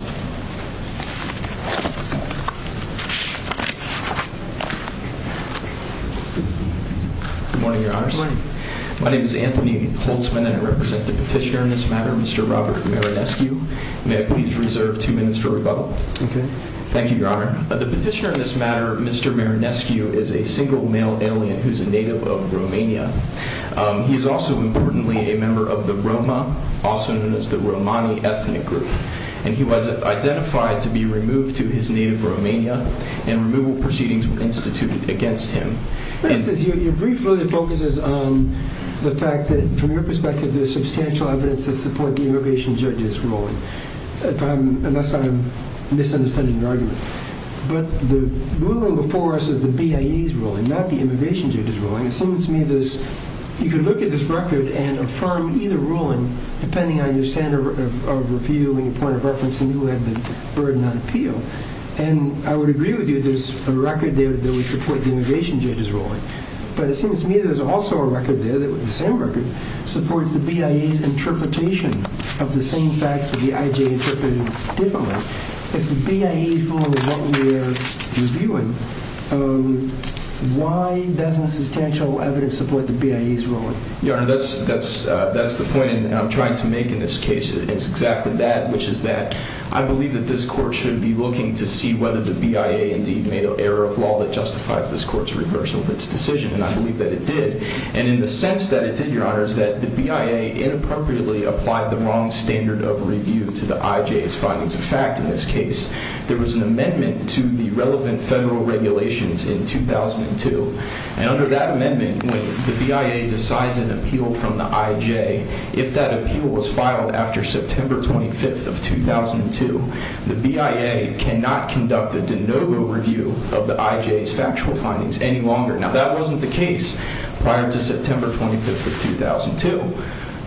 Good morning, your honors. My name is Anthony Holtzman, and I represent the petitioner in this matter, Mr. Robert Marinescu. May I please reserve two minutes for rebuttal? Okay. Thank you, your honor. The petitioner in this matter, Mr. Marinescu, is a single male alien who's a native of Romania. He is also, importantly, a member of the Roma, also known as the Romani ethnic group, and he was identified to be removed to his native Romania, and removal proceedings were instituted against him. Your brief really focuses on the fact that, from your perspective, there's substantial evidence to support the immigration judge's ruling, unless I'm misunderstanding your argument. But the ruling before us is the BIA's ruling, not the immigration judge's ruling. It seems to me that you can look at this record and affirm either ruling, depending on your standard of review and your point of reference, and you have the burden on appeal, and I would agree with you there's a record there that would support the immigration judge's ruling. But it seems to me there's also a record there that, the same record, supports the BIA's interpretation of the same facts that the IJ interpreted differently. If the BIA's ruling is what we're reviewing, why doesn't substantial evidence support the BIA's ruling? Your Honor, that's the point I'm trying to make in this case. It's exactly that, which is that I believe that this court should be looking to see whether the BIA indeed made an error of law that justifies this court's reversal of its decision, and I believe that it did. And in the sense that it did, Your Honor, is that the BIA inappropriately applied the wrong standard of review to the IJ's findings of fact in this case. There was an amendment to the relevant federal regulations in 2002, and under that amendment, when the BIA decides an appeal from the IJ, if that appeal was filed after September 25th of 2002, the BIA cannot conduct a de novo review of the IJ's factual findings any longer. Now, that wasn't the case prior to September 25th of 2002,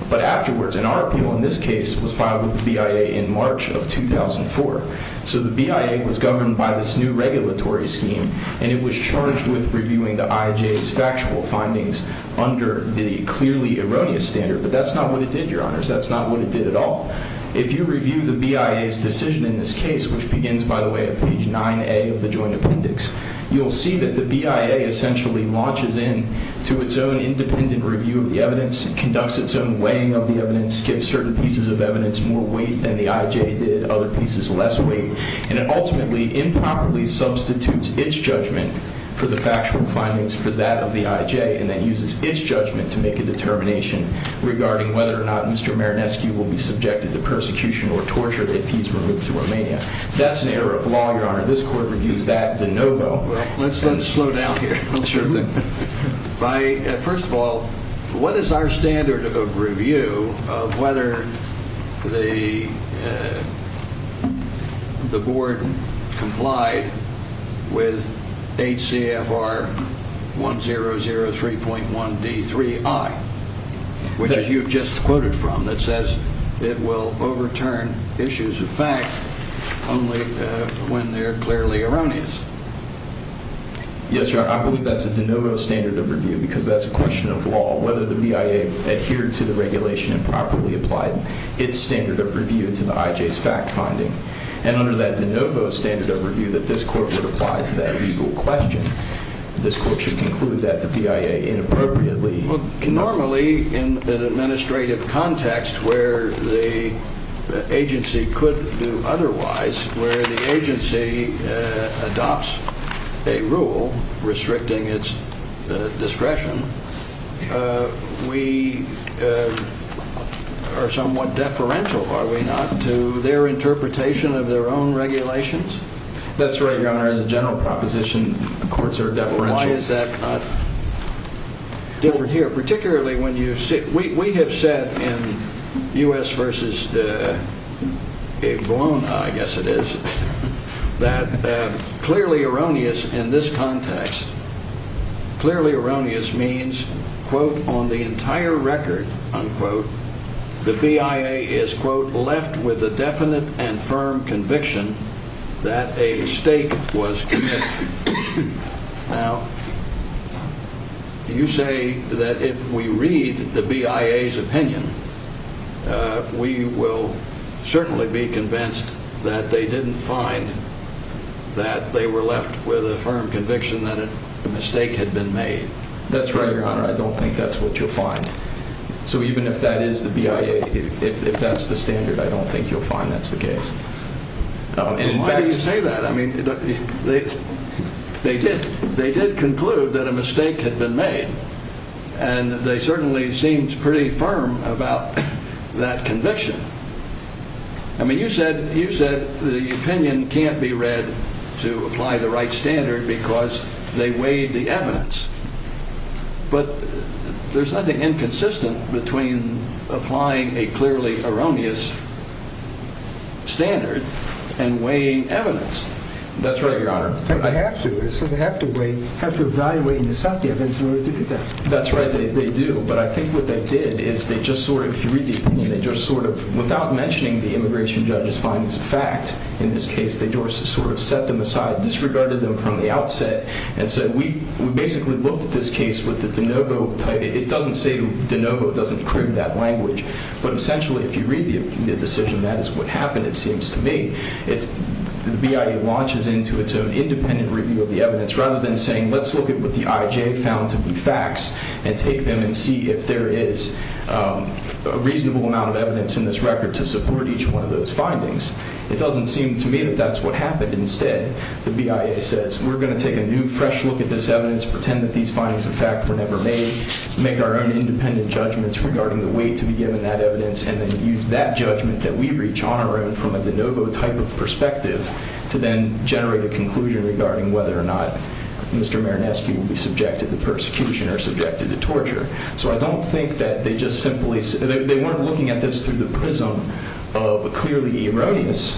but afterwards, and our appeal in this case was filed with the BIA in March of 2004. So the BIA was governed by this new regulatory scheme, and it was charged with reviewing the IJ's factual findings under the clearly erroneous standard, but that's not what it did, Your Honors. That's not what it did at all. If you review the BIA's decision in this case, which begins, by the way, at page 9a of the Joint Appendix, you'll see that the BIA essentially launches in to its own independent review of the evidence, conducts its own weighing of the evidence, gives certain pieces of evidence more weight than the IJ did, other pieces less weight, and it ultimately improperly substitutes its judgment for the factual findings for that of the IJ, and then uses its judgment to make a determination regarding whether or not Mr. Marinescu will be subjected to persecution or torture if he's removed to Romania. That's an error of law, Your Honor. This Court reviews that de novo. Let's slow down here. First of all, what is our standard of review of whether the Board complied with HCFR 1003.1D3I, which you've just quoted from, that says it will overturn issues of fact only when they're clearly erroneous? Yes, Your Honor. I believe that's a de novo standard of review because that's a question of law, whether the BIA adhered to the regulation and properly applied its standard of review to the IJ's fact-finding. And under that de novo standard of review that this Court would apply to that legal question, this Court should conclude that the BIA inappropriately... a rule restricting its discretion, we are somewhat deferential, are we not, to their interpretation of their own regulations? That's right, Your Honor. As a general proposition, the courts are deferential. Why is that different here? We have said in U.S. v. Bologna, I guess it is, that clearly erroneous in this context, clearly erroneous means, quote, on the entire record, unquote, the BIA is, quote, left with a definite and firm conviction that a mistake was committed. Now, you say that if we read the BIA's opinion, we will certainly be convinced that they didn't find that they were left with a firm conviction that a mistake had been made. That's right, Your Honor. I don't think that's what you'll find. So even if that is the BIA, if that's the standard, I don't think you'll find that's the case. Why do you say that? I mean, they did conclude that a mistake had been made, and they certainly seemed pretty firm about that conviction. I mean, you said the opinion can't be read to apply the right standard because they weighed the evidence. But there's nothing inconsistent between applying a clearly erroneous standard and weighing evidence. That's right, Your Honor. I have to. It says I have to weigh, have to evaluate and assess the evidence in order to do that. That's right, they do. But I think what they did is they just sort of, if you read the opinion, they just sort of, without mentioning the immigration judge's findings of fact in this case, they just sort of set them aside, disregarded them from the outset, and said we basically looked at this case with the de novo type. It doesn't say de novo. It doesn't crib that language. But essentially, if you read the decision, that is what happened, it seems to me. The BIA launches into its own independent review of the evidence rather than saying let's look at what the IJ found to be facts and take them and see if there is a reasonable amount of evidence in this record to support each one of those findings. It doesn't seem to me that that's what happened. Instead, the BIA says we're going to take a new, fresh look at this evidence, pretend that these findings of fact were never made, make our own independent judgments regarding the way to be given that evidence and then use that judgment that we reach on our own from a de novo type of perspective to then generate a conclusion regarding whether or not Mr. Marinescu will be subjected to persecution or subjected to torture. So I don't think that they just simply, they weren't looking at this through the prism of a clearly erroneous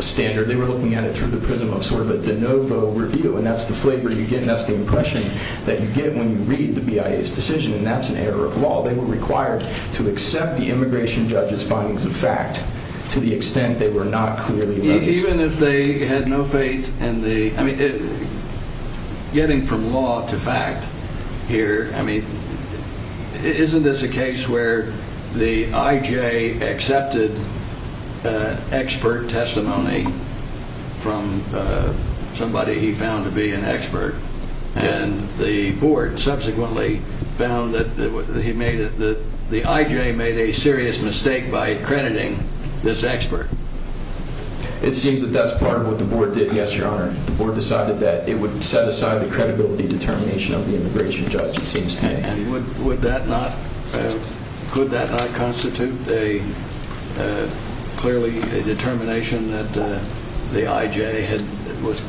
standard. They were looking at it through the prism of sort of a de novo review and that's the flavor you get and that's the impression that you get when you read the BIA's decision and that's an error of law. They were required to accept the immigration judge's findings of fact to the extent they were not clearly. Even if they had no faith in the, I mean, getting from law to fact here, I mean, isn't this a case where the IJ accepted expert testimony from somebody he found to be an expert and the board subsequently found that the IJ made a serious mistake by crediting this expert? It seems that that's part of what the board did, yes, your honor. The board decided that it would set aside the credibility determination of the immigration judge, it seems to me. And would that not, could that not constitute a clearly determination that the IJ was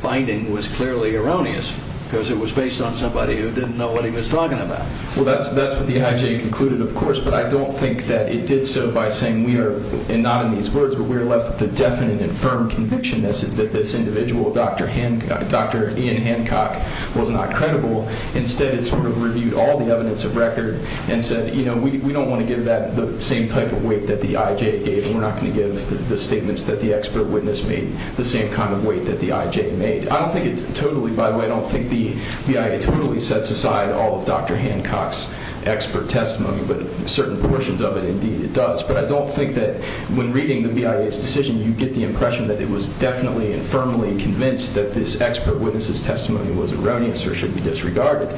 finding was clearly erroneous because it was based on somebody who didn't know what he was talking about? Well, that's what the IJ concluded, of course, but I don't think that it did so by saying we are, and not in these words, but we are left with a definite and firm conviction that this individual, Dr. Ian Hancock, was not credible. Instead, it sort of reviewed all the evidence of record and said, you know, we don't want to give that the same type of weight that the IJ gave. We're not going to give the statements that the expert witness made the same kind of weight that the IJ made. I don't think it's totally, by the way, I don't think the BIA totally sets aside all of Dr. Hancock's expert testimony, but certain portions of it, indeed, it does. But I don't think that when reading the BIA's decision, you get the impression that it was definitely and firmly convinced that this expert witness's testimony was erroneous or should be disregarded.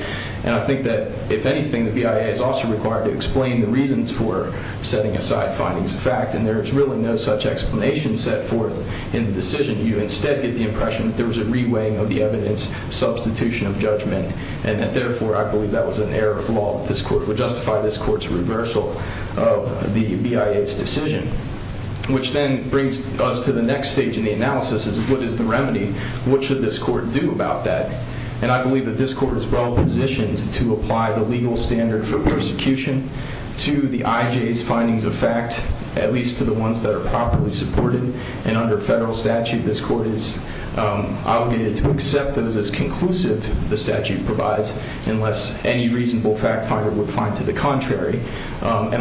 And I think that, if anything, the BIA is also required to explain the reasons for setting aside findings of fact, and there is really no such explanation set forth in the decision. You instead get the impression that there was a reweighing of the evidence, substitution of judgment, and that, therefore, I believe that was an error of law that this court would justify this court's reversal of the BIA's decision. Which then brings us to the next stage in the analysis is what is the remedy? What should this court do about that? And I believe that this court is well-positioned to apply the legal standard for persecution to the IJ's findings of fact, at least to the ones that are properly supported. And under federal statute, this court is obligated to accept those as conclusive the statute provides, and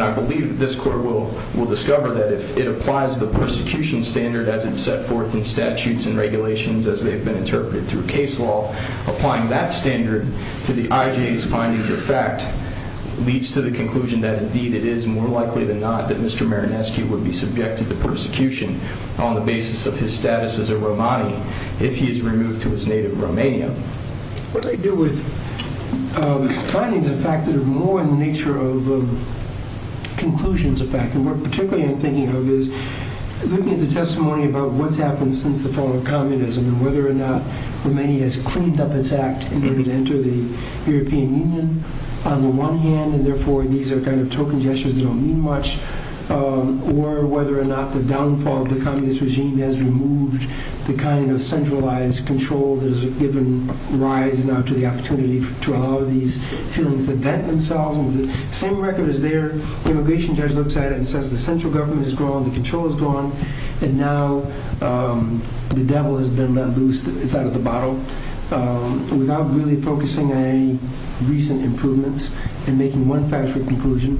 I believe this court will discover that if it applies the persecution standard as it's set forth in statutes and regulations as they've been interpreted through case law, applying that standard to the IJ's findings of fact leads to the conclusion that, indeed, it is more likely than not that Mr. Marinescu would be subjected to persecution on the basis of his status as a Romani if he is removed to his native Romania. What I do with findings of fact that are more in the nature of conclusions of fact, and what particularly I'm thinking of is looking at the testimony about what's happened since the fall of communism and whether or not Romania has cleaned up its act in order to enter the European Union on the one hand, and therefore these are kind of token gestures that don't mean much, or whether or not the downfall of the communist regime has removed the kind of centralized control that has given rise now to the opportunity to allow these feelings to vent themselves. The same record is there, the immigration judge looks at it and says the central government is gone, the control is gone, and now the devil has been let loose, it's out of the bottle. Without really focusing on any recent improvements and making one factual conclusion,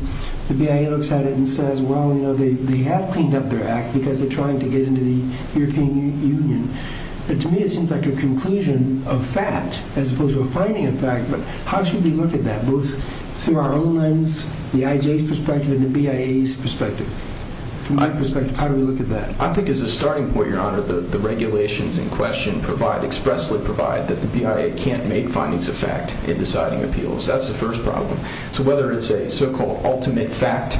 the BIA looks at it and says, well, you know, they have cleaned up their act because they're trying to get into the European Union. But to me it seems like a conclusion of fact as opposed to a finding of fact, but how should we look at that, both through our own lens, the IJ's perspective and the BIA's perspective? From my perspective, how do we look at that? I think as a starting point, Your Honor, the regulations in question expressly provide that the BIA can't make findings of fact in deciding appeals. That's the first problem. So whether it's a so-called ultimate fact,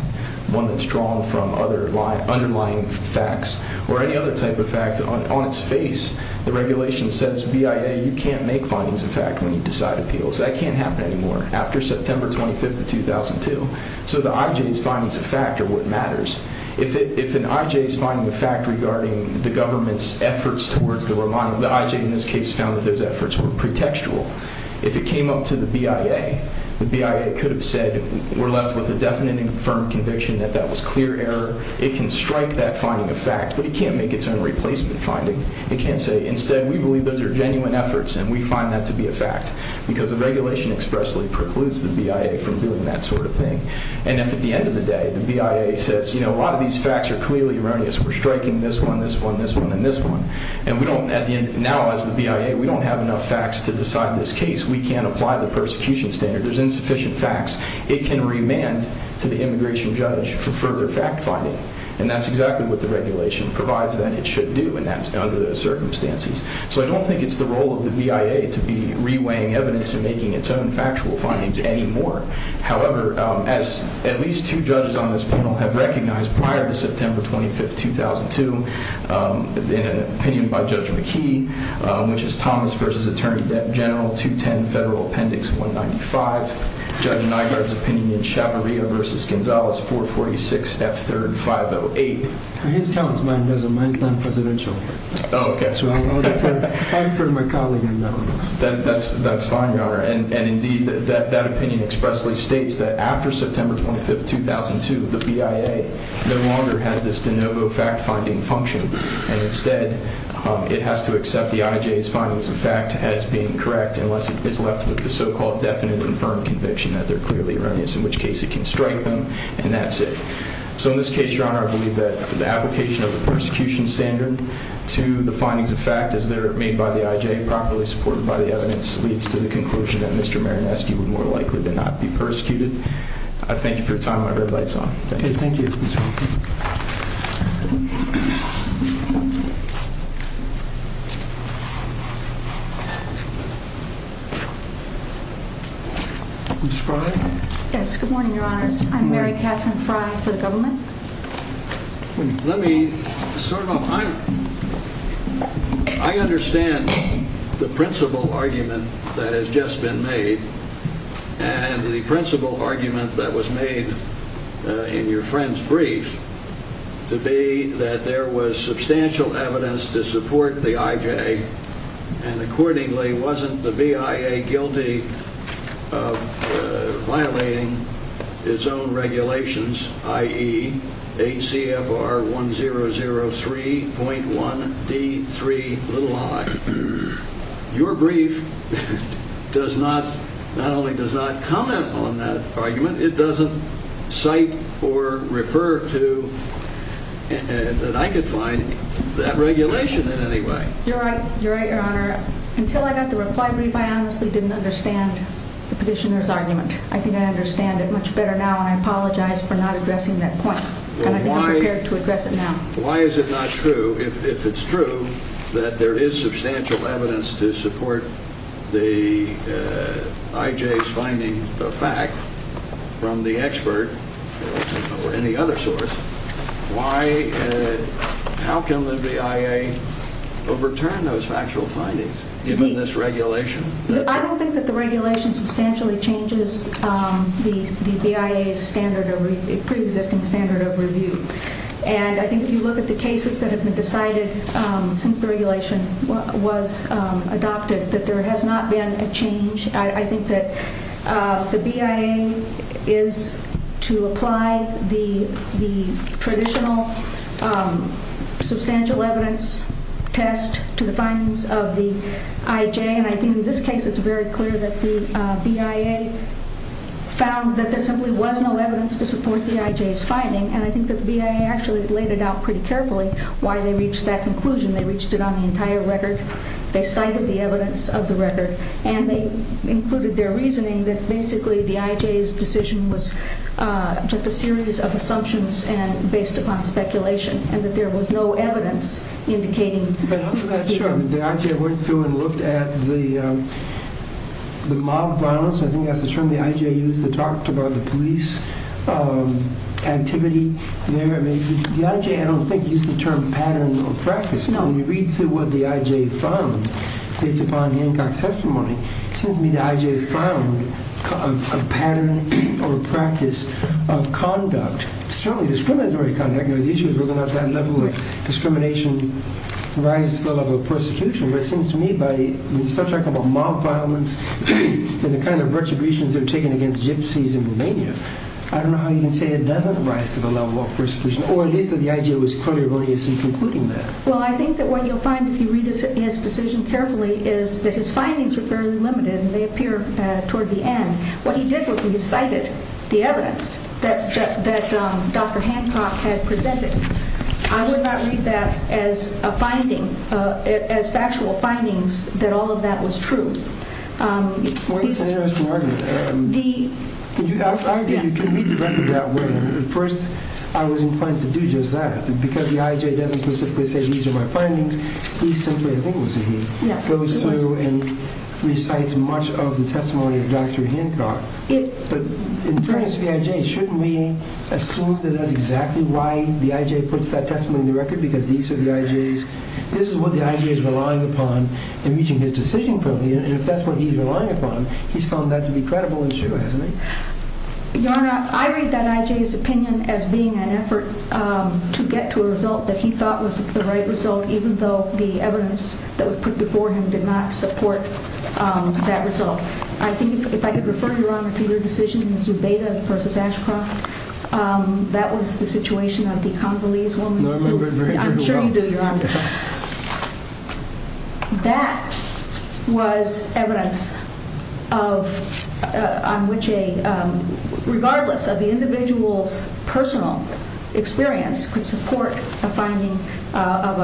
one that's drawn from underlying facts, or any other type of fact, on its face the regulation says, BIA, you can't make findings of fact when you decide appeals. That can't happen anymore, after September 25th of 2002. So the IJ's findings of fact are what matters. If an IJ's finding of fact regarding the government's efforts towards the Romano, the IJ in this case found that those efforts were pretextual. If it came up to the BIA, the BIA could have said we're left with a definite and confirmed conviction that that was clear error. It can strike that finding of fact, but it can't make its own replacement finding. It can't say instead we believe those are genuine efforts and we find that to be a fact because the regulation expressly precludes the BIA from doing that sort of thing. And if at the end of the day the BIA says, you know, a lot of these facts are clearly erroneous. We're striking this one, this one, this one, and this one. And we don't, now as the BIA, we don't have enough facts to decide this case. We can't apply the persecution standard. There's insufficient facts. It can remand to the immigration judge for further fact finding. And that's exactly what the regulation provides that it should do, and that's under the circumstances. So I don't think it's the role of the BIA to be reweighing evidence and making its own factual findings anymore. However, as at least two judges on this panel have recognized prior to September 25th, 2002, in an opinion by Judge McKee, which is Thomas v. Attorney General 210 Federal Appendix 195, Judge Nygaard's opinion in Chavarria v. Gonzalez 446 F3rd 508. His comments, mine doesn't. Mine's non-presidential. Oh, okay. So I'll defer to my colleague on that one. That's fine, Your Honor. And indeed, that opinion expressly states that after September 25th, 2002, the BIA no longer has this de novo fact finding function. And instead, it has to accept the IJ's findings of fact as being correct unless it is left with the so-called definite and firm conviction that they're clearly erroneous, in which case it can strike them, and that's it. So in this case, Your Honor, I believe that the application of the persecution standard to the findings of fact as they're made by the IJ, properly supported by the evidence, leads to the conclusion that Mr. Marineski would more likely to not be persecuted. I thank you for your time. My red light's on. Thank you. Ms. Frye? Yes, good morning, Your Honors. I'm Mary Catherine Frye for the government. Let me sort of – I understand the principle argument that has just been made, and the principle argument that was made in your friend's brief to be that there was substantial evidence to support the IJ, and accordingly wasn't the BIA guilty of violating its own regulations, i.e., HCFR 1003.1D3i. Your brief does not – not only does not comment on that argument, it doesn't cite or refer to that I could find that regulation in any way. You're right. You're right, Your Honor. Until I got the reply brief, I honestly didn't understand the petitioner's argument. I think I understand it much better now, and I apologize for not addressing that point. And I think I'm prepared to address it now. Why is it not true? If it's true that there is substantial evidence to support the IJ's finding of fact from the expert or any other source, why – how can the BIA overturn those factual findings, given this regulation? I don't think that the regulation substantially changes the BIA's standard of – pre-existing standard of review. And I think if you look at the cases that have been decided since the regulation was adopted, that there has not been a change. I think that the BIA is to apply the traditional substantial evidence test to the findings of the IJ. And I think in this case it's very clear that the BIA found that there simply was no evidence to support the IJ's finding. And I think that the BIA actually laid it out pretty carefully why they reached that conclusion. They reached it on the entire record. They cited the evidence of the record. And they included their reasoning that basically the IJ's decision was just a series of assumptions based upon speculation, and that there was no evidence indicating – But after that, sure, the IJ went through and looked at the mob violence. I think that's the term the IJ used that talked about the police activity there. The IJ, I don't think, used the term pattern or practice. No, when you read through what the IJ found based upon Hancock's testimony, it seems to me the IJ found a pattern or a practice of conduct, certainly discriminatory conduct. The issue is whether or not that level of discrimination rises to the level of persecution. But it seems to me by the subject of mob violence and the kind of retributions that are taken against gypsies in Romania, I don't know how you can say it doesn't rise to the level of persecution, or at least that the IJ was quite erroneously concluding that. Well, I think that what you'll find if you read his decision carefully is that his findings were fairly limited, and they appear toward the end. What he did was he cited the evidence that Dr. Hancock had presented. I would not read that as a finding, as factual findings, that all of that was true. It's an interesting argument. You can read the record that way. At first, I was inclined to do just that. Because the IJ doesn't specifically say these are my findings, he simply, I think it was he, goes through and recites much of the testimony of Dr. Hancock. But in terms of the IJ, shouldn't we assume that that's exactly why the IJ puts that testimony in the record, because these are the IJs, this is what the IJ is relying upon in reaching his decision? And if that's what he's relying upon, he's found that to be credible issue, hasn't he? Your Honor, I read that IJ's opinion as being an effort to get to a result that he thought was the right result, even though the evidence that was put before him did not support that result. I think if I could refer, Your Honor, to your decision in Zubeda v. Ashcroft, that was the situation of the Congolese woman. I'm sure you do, Your Honor. That was evidence on which, regardless of the individual's personal experience, could support a finding of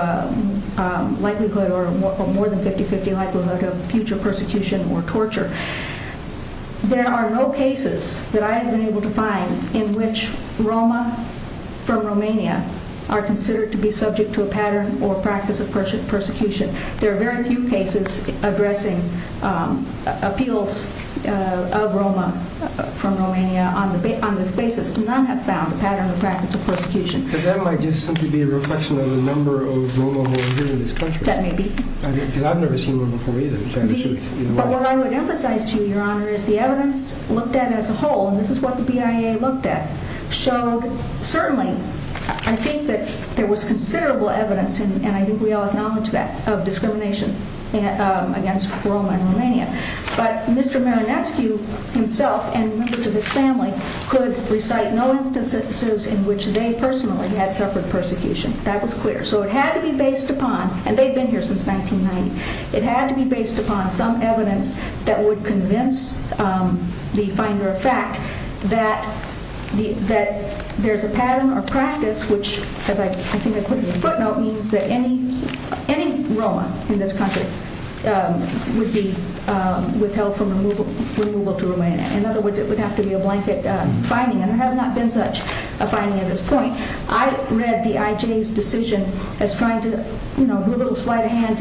a likelihood or more than 50-50 likelihood of future persecution or torture. There are no cases that I have been able to find in which Roma from Romania are considered to be subject to a pattern or practice of persecution. There are very few cases addressing appeals of Roma from Romania on this basis. None have found a pattern or practice of persecution. But that might just simply be a reflection of the number of Roma who are here in this country. That may be. Because I've never seen one before either, to tell you the truth. But what I would emphasize to you, Your Honor, is the evidence looked at as a whole, and this is what the BIA looked at, showed, certainly, I think that there was considerable evidence, and I think we all acknowledge that, of discrimination against Roma in Romania. But Mr. Marinescu himself and members of his family could recite no instances in which they personally had suffered persecution. That was clear. So it had to be based upon, and they've been here since 1990, it had to be based upon some evidence that would convince the finder of fact that there's a pattern or practice which, as I think I put in the footnote, means that any Roma in this country would be withheld from removal to Romania. In other words, it would have to be a blanket fining, and there has not been such a fining at this point. I read the IJ's decision as trying to, you know,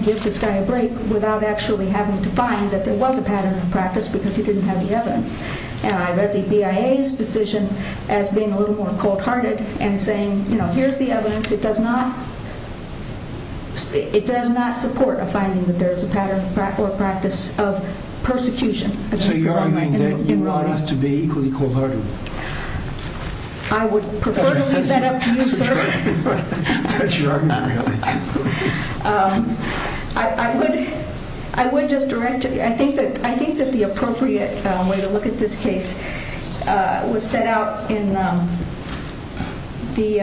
give this guy a break without actually having to find that there was a pattern of practice because he didn't have the evidence. And I read the BIA's decision as being a little more cold-hearted and saying, you know, here's the evidence. It does not support a finding that there is a pattern or practice of persecution against Roma in Romania. So you are saying that you want us to be equally cold-hearted? I would prefer to leave that up to you, sir. I would just direct you. I think that the appropriate way to look at this case was set out in the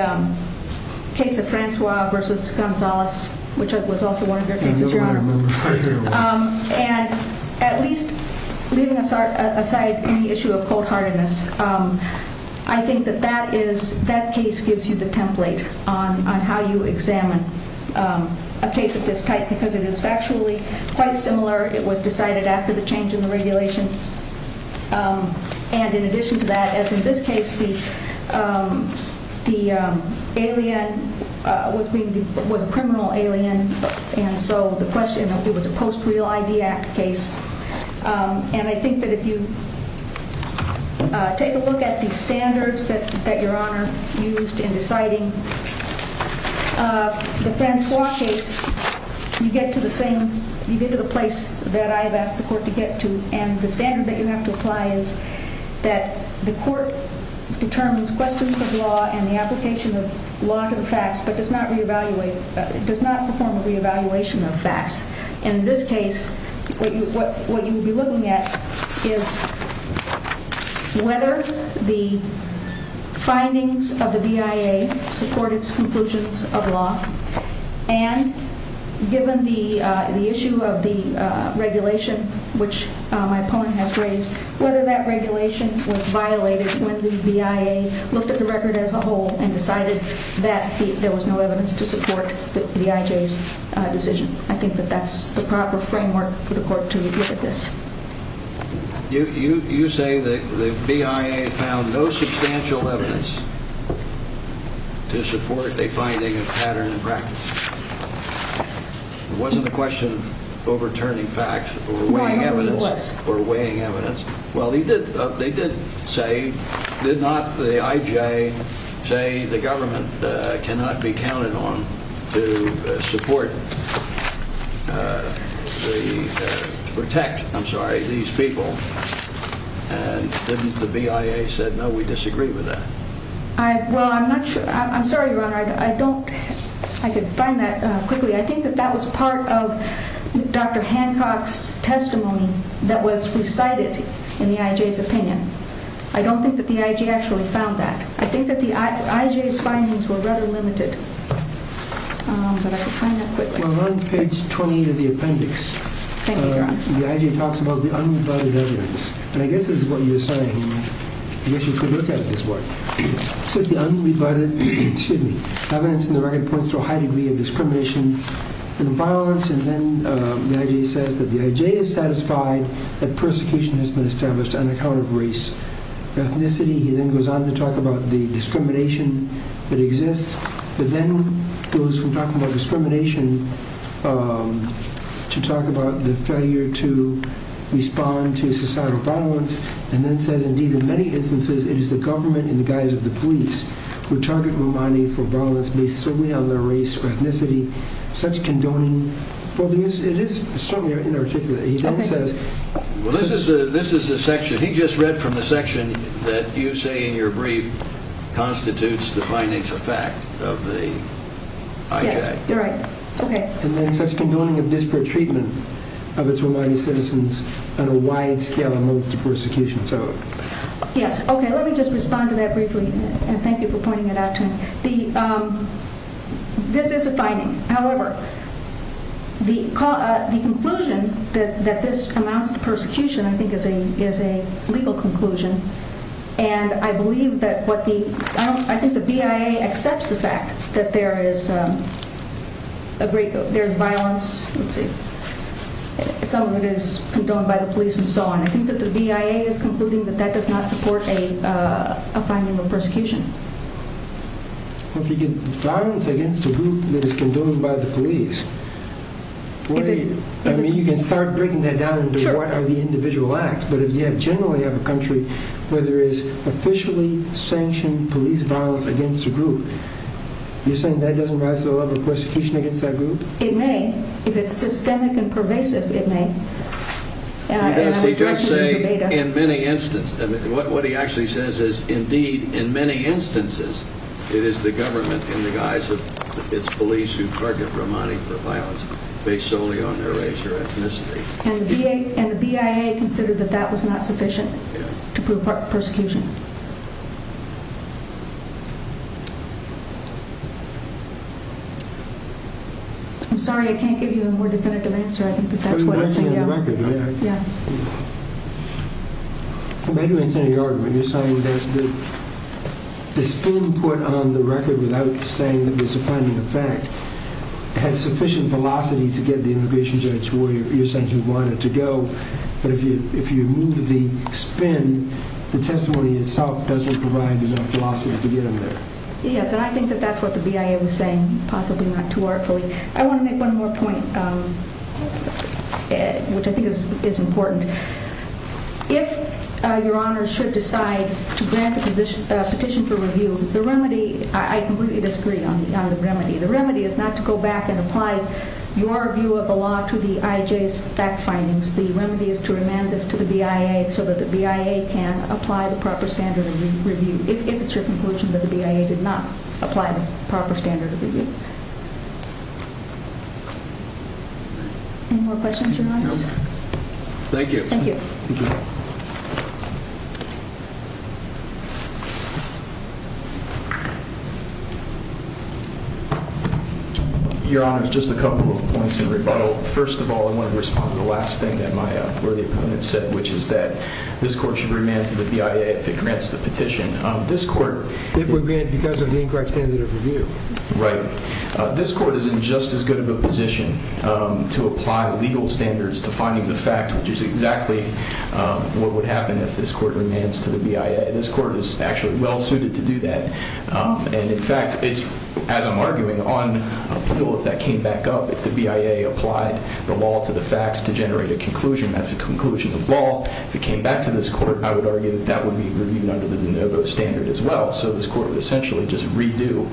case of Francois versus Gonzales, which was also one of your cases, Your Honor. And at least leaving aside any issue of cold-heartedness, I think that that case gives you the template on how you examine a case of this type because it is factually quite similar. It was decided after the change in the regulation. And in addition to that, as in this case, the alien was a criminal alien, and so the question of it was a post-real ID act case. And I think that if you take a look at the standards that Your Honor used in deciding the Francois case, you get to the place that I have asked the court to get to. And the standard that you have to apply is that the court determines questions of law and the application of law to the facts, but does not perform a reevaluation of facts. And in this case, what you would be looking at is whether the findings of the BIA support its conclusions of law, and given the issue of the regulation, which my opponent has raised, whether that regulation was violated when the BIA looked at the record as a whole and decided that there was no evidence to support the IJ's decision. I think that that's the proper framework for the court to look at this. You say that the BIA found no substantial evidence to support a finding of pattern and practice. It wasn't a question of overturning facts or weighing evidence. Well, they did say, did not the IJ say the government cannot be counted on to support, to protect, I'm sorry, these people? And didn't the BIA say, no, we disagree with that? Well, I'm not sure, I'm sorry, Your Honor, I don't, I could find that quickly. I think that that was part of Dr. Hancock's testimony that was recited in the IJ's opinion. I don't think that the IJ actually found that. I think that the IJ's findings were rather limited, but I could find that quickly. Well, on page 28 of the appendix, the IJ talks about the unrebutted evidence. And I guess this is what you're saying, I guess you could look at this work. It says the unrebutted evidence in the record points to a high degree of discrimination and violence. And then the IJ says that the IJ is satisfied that persecution has been established on account of race, ethnicity. He then goes on to talk about the discrimination that exists. But then goes from talking about discrimination to talk about the failure to respond to societal violence. And then says, indeed, in many instances, it is the government in the guise of the police who target Romani for violence based solely on their race or ethnicity. Such condoning, it is certainly inarticulate. Well, this is the section, he just read from the section that you say in your brief constitutes the findings of fact of the IJ. And then such condoning of disparate treatment of its Romani citizens on a wide scale amounts to persecution. Yes, okay, let me just respond to that briefly, and thank you for pointing it out to me. This is a finding. However, the conclusion that this amounts to persecution, I think, is a legal conclusion. And I believe that what the, I think the BIA accepts the fact that there is violence, some of it is condoned by the police and so on. I think that the BIA is concluding that that does not support a finding of persecution. If you get violence against a group that is condoned by the police, you can start breaking that down into what are the individual acts. But if you generally have a country where there is officially sanctioned police violence against a group, you're saying that doesn't rise to the level of persecution against that group? It may. If it's systemic and pervasive, it may. He does say, in many instances, what he actually says is, indeed, in many instances, it is the government in the guise of its police who target Romani for violence based solely on their race or ethnicity. And the BIA considered that that was not sufficient to prove persecution. I'm sorry, I can't give you a more definitive answer, I think, but that's what I think. The spin put on the record without saying that it was a finding of fact had sufficient velocity to get the immigration judge where you said you wanted to go. But if you move the spin, the testimony itself doesn't provide enough velocity to get him there. Yes, and I think that that's what the BIA was saying, possibly not too artfully. I want to make one more point, which I think is important. If your Honor should decide to grant a petition for review, the remedy, I completely disagree on the remedy. The remedy is not to go back and apply your view of the law to the IJ's fact findings. The remedy is to remand this to the BIA so that the BIA can apply the proper standard of review, if it's your conclusion that the BIA did not apply this proper standard of review. Any more questions, Your Honor? No. Thank you. Thank you. Your Honor, just a couple of points in rebuttal. First of all, I want to respond to the last thing that my worthy opponent said, which is that this court should remand to the BIA if it grants the petition. This court— It would remand because of the incorrect standard of review. Right. This court is in just as good of a position to apply legal standards to finding the fact, which is exactly what would happen if this court remands to the BIA. This court is actually well-suited to do that. And, in fact, as I'm arguing, on appeal, if that came back up, if the BIA applied the law to the facts to generate a conclusion, that's a conclusion of law. If it came back to this court, I would argue that that would be reviewed under the de novo standard as well. So this court would essentially just redo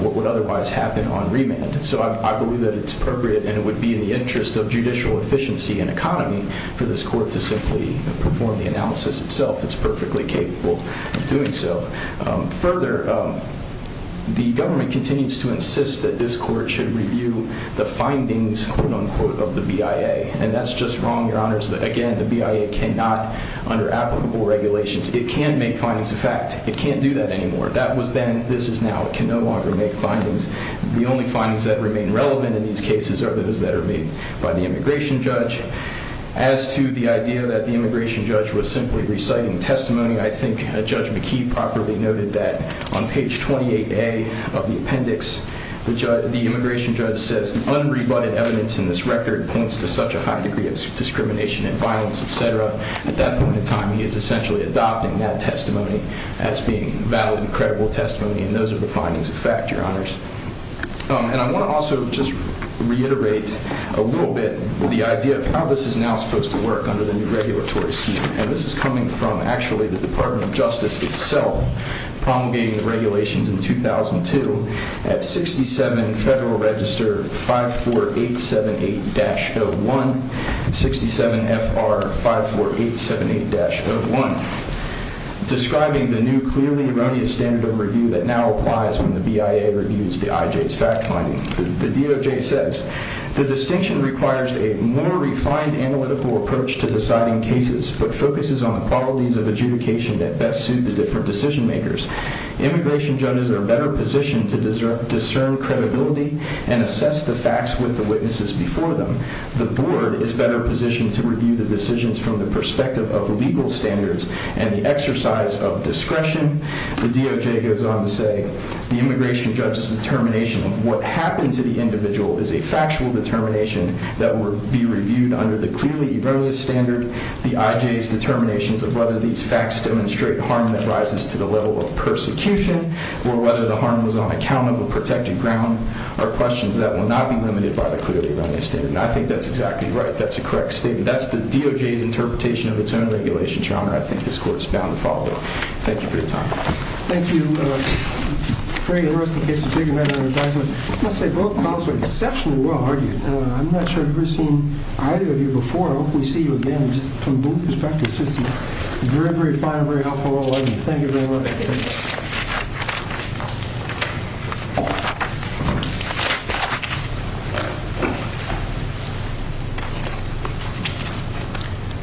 what would otherwise happen on remand. So I believe that it's appropriate and it would be in the interest of judicial efficiency and economy for this court to simply perform the analysis itself. It's perfectly capable of doing so. Further, the government continues to insist that this court should review the findings, quote-unquote, of the BIA. And that's just wrong, Your Honors. Again, the BIA cannot—under applicable regulations, it can make findings of fact. It can't do that anymore. That was then. This is now. It can no longer make findings. The only findings that remain relevant in these cases are those that are made by the immigration judge. As to the idea that the immigration judge was simply reciting testimony, I think Judge McKee properly noted that on page 28A of the appendix, the immigration judge says the unrebutted evidence in this record points to such a high degree of discrimination and violence, et cetera. At that point in time, he is essentially adopting that testimony as being valid and credible testimony. And those are the findings of fact, Your Honors. And I want to also just reiterate a little bit the idea of how this is now supposed to work under the new regulatory scheme. And this is coming from actually the Department of Justice itself promulgating the regulations in 2002 at 67 Federal Register 54878-01, 67 FR 54878-01, describing the new clearly erroneous standard of review that now applies when the BIA reviews the IJ's fact finding. The DOJ says the distinction requires a more refined analytical approach to deciding cases, but focuses on the qualities of adjudication that best suit the different decision makers. Immigration judges are better positioned to discern credibility and assess the facts with the witnesses before them. The board is better positioned to review the decisions from the perspective of legal standards and the exercise of discretion. The DOJ goes on to say the immigration judge's determination of what happened to the individual is a factual determination that will be reviewed under the clearly erroneous standard. The IJ's determinations of whether these facts demonstrate harm that rises to the level of persecution or whether the harm was on account of a protected ground are questions that will not be limited by the clearly erroneous standard. And I think that's exactly right. That's a correct statement. That's the DOJ's interpretation of its own regulation, Your Honor. I think this court is bound to follow it. Thank you for your time. Thank you, Craig and Russ, in case you take a minute on your time. I must say, both calls were exceptionally well-argued. I'm not sure I've ever seen either of you before. I hope we see you again from both perspectives. It's just a very, very fine and very helpful role. I love you. Thank you very much. Thanks.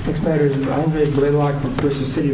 Next matter is Andre Blaylock from Precious City, Philadelphia.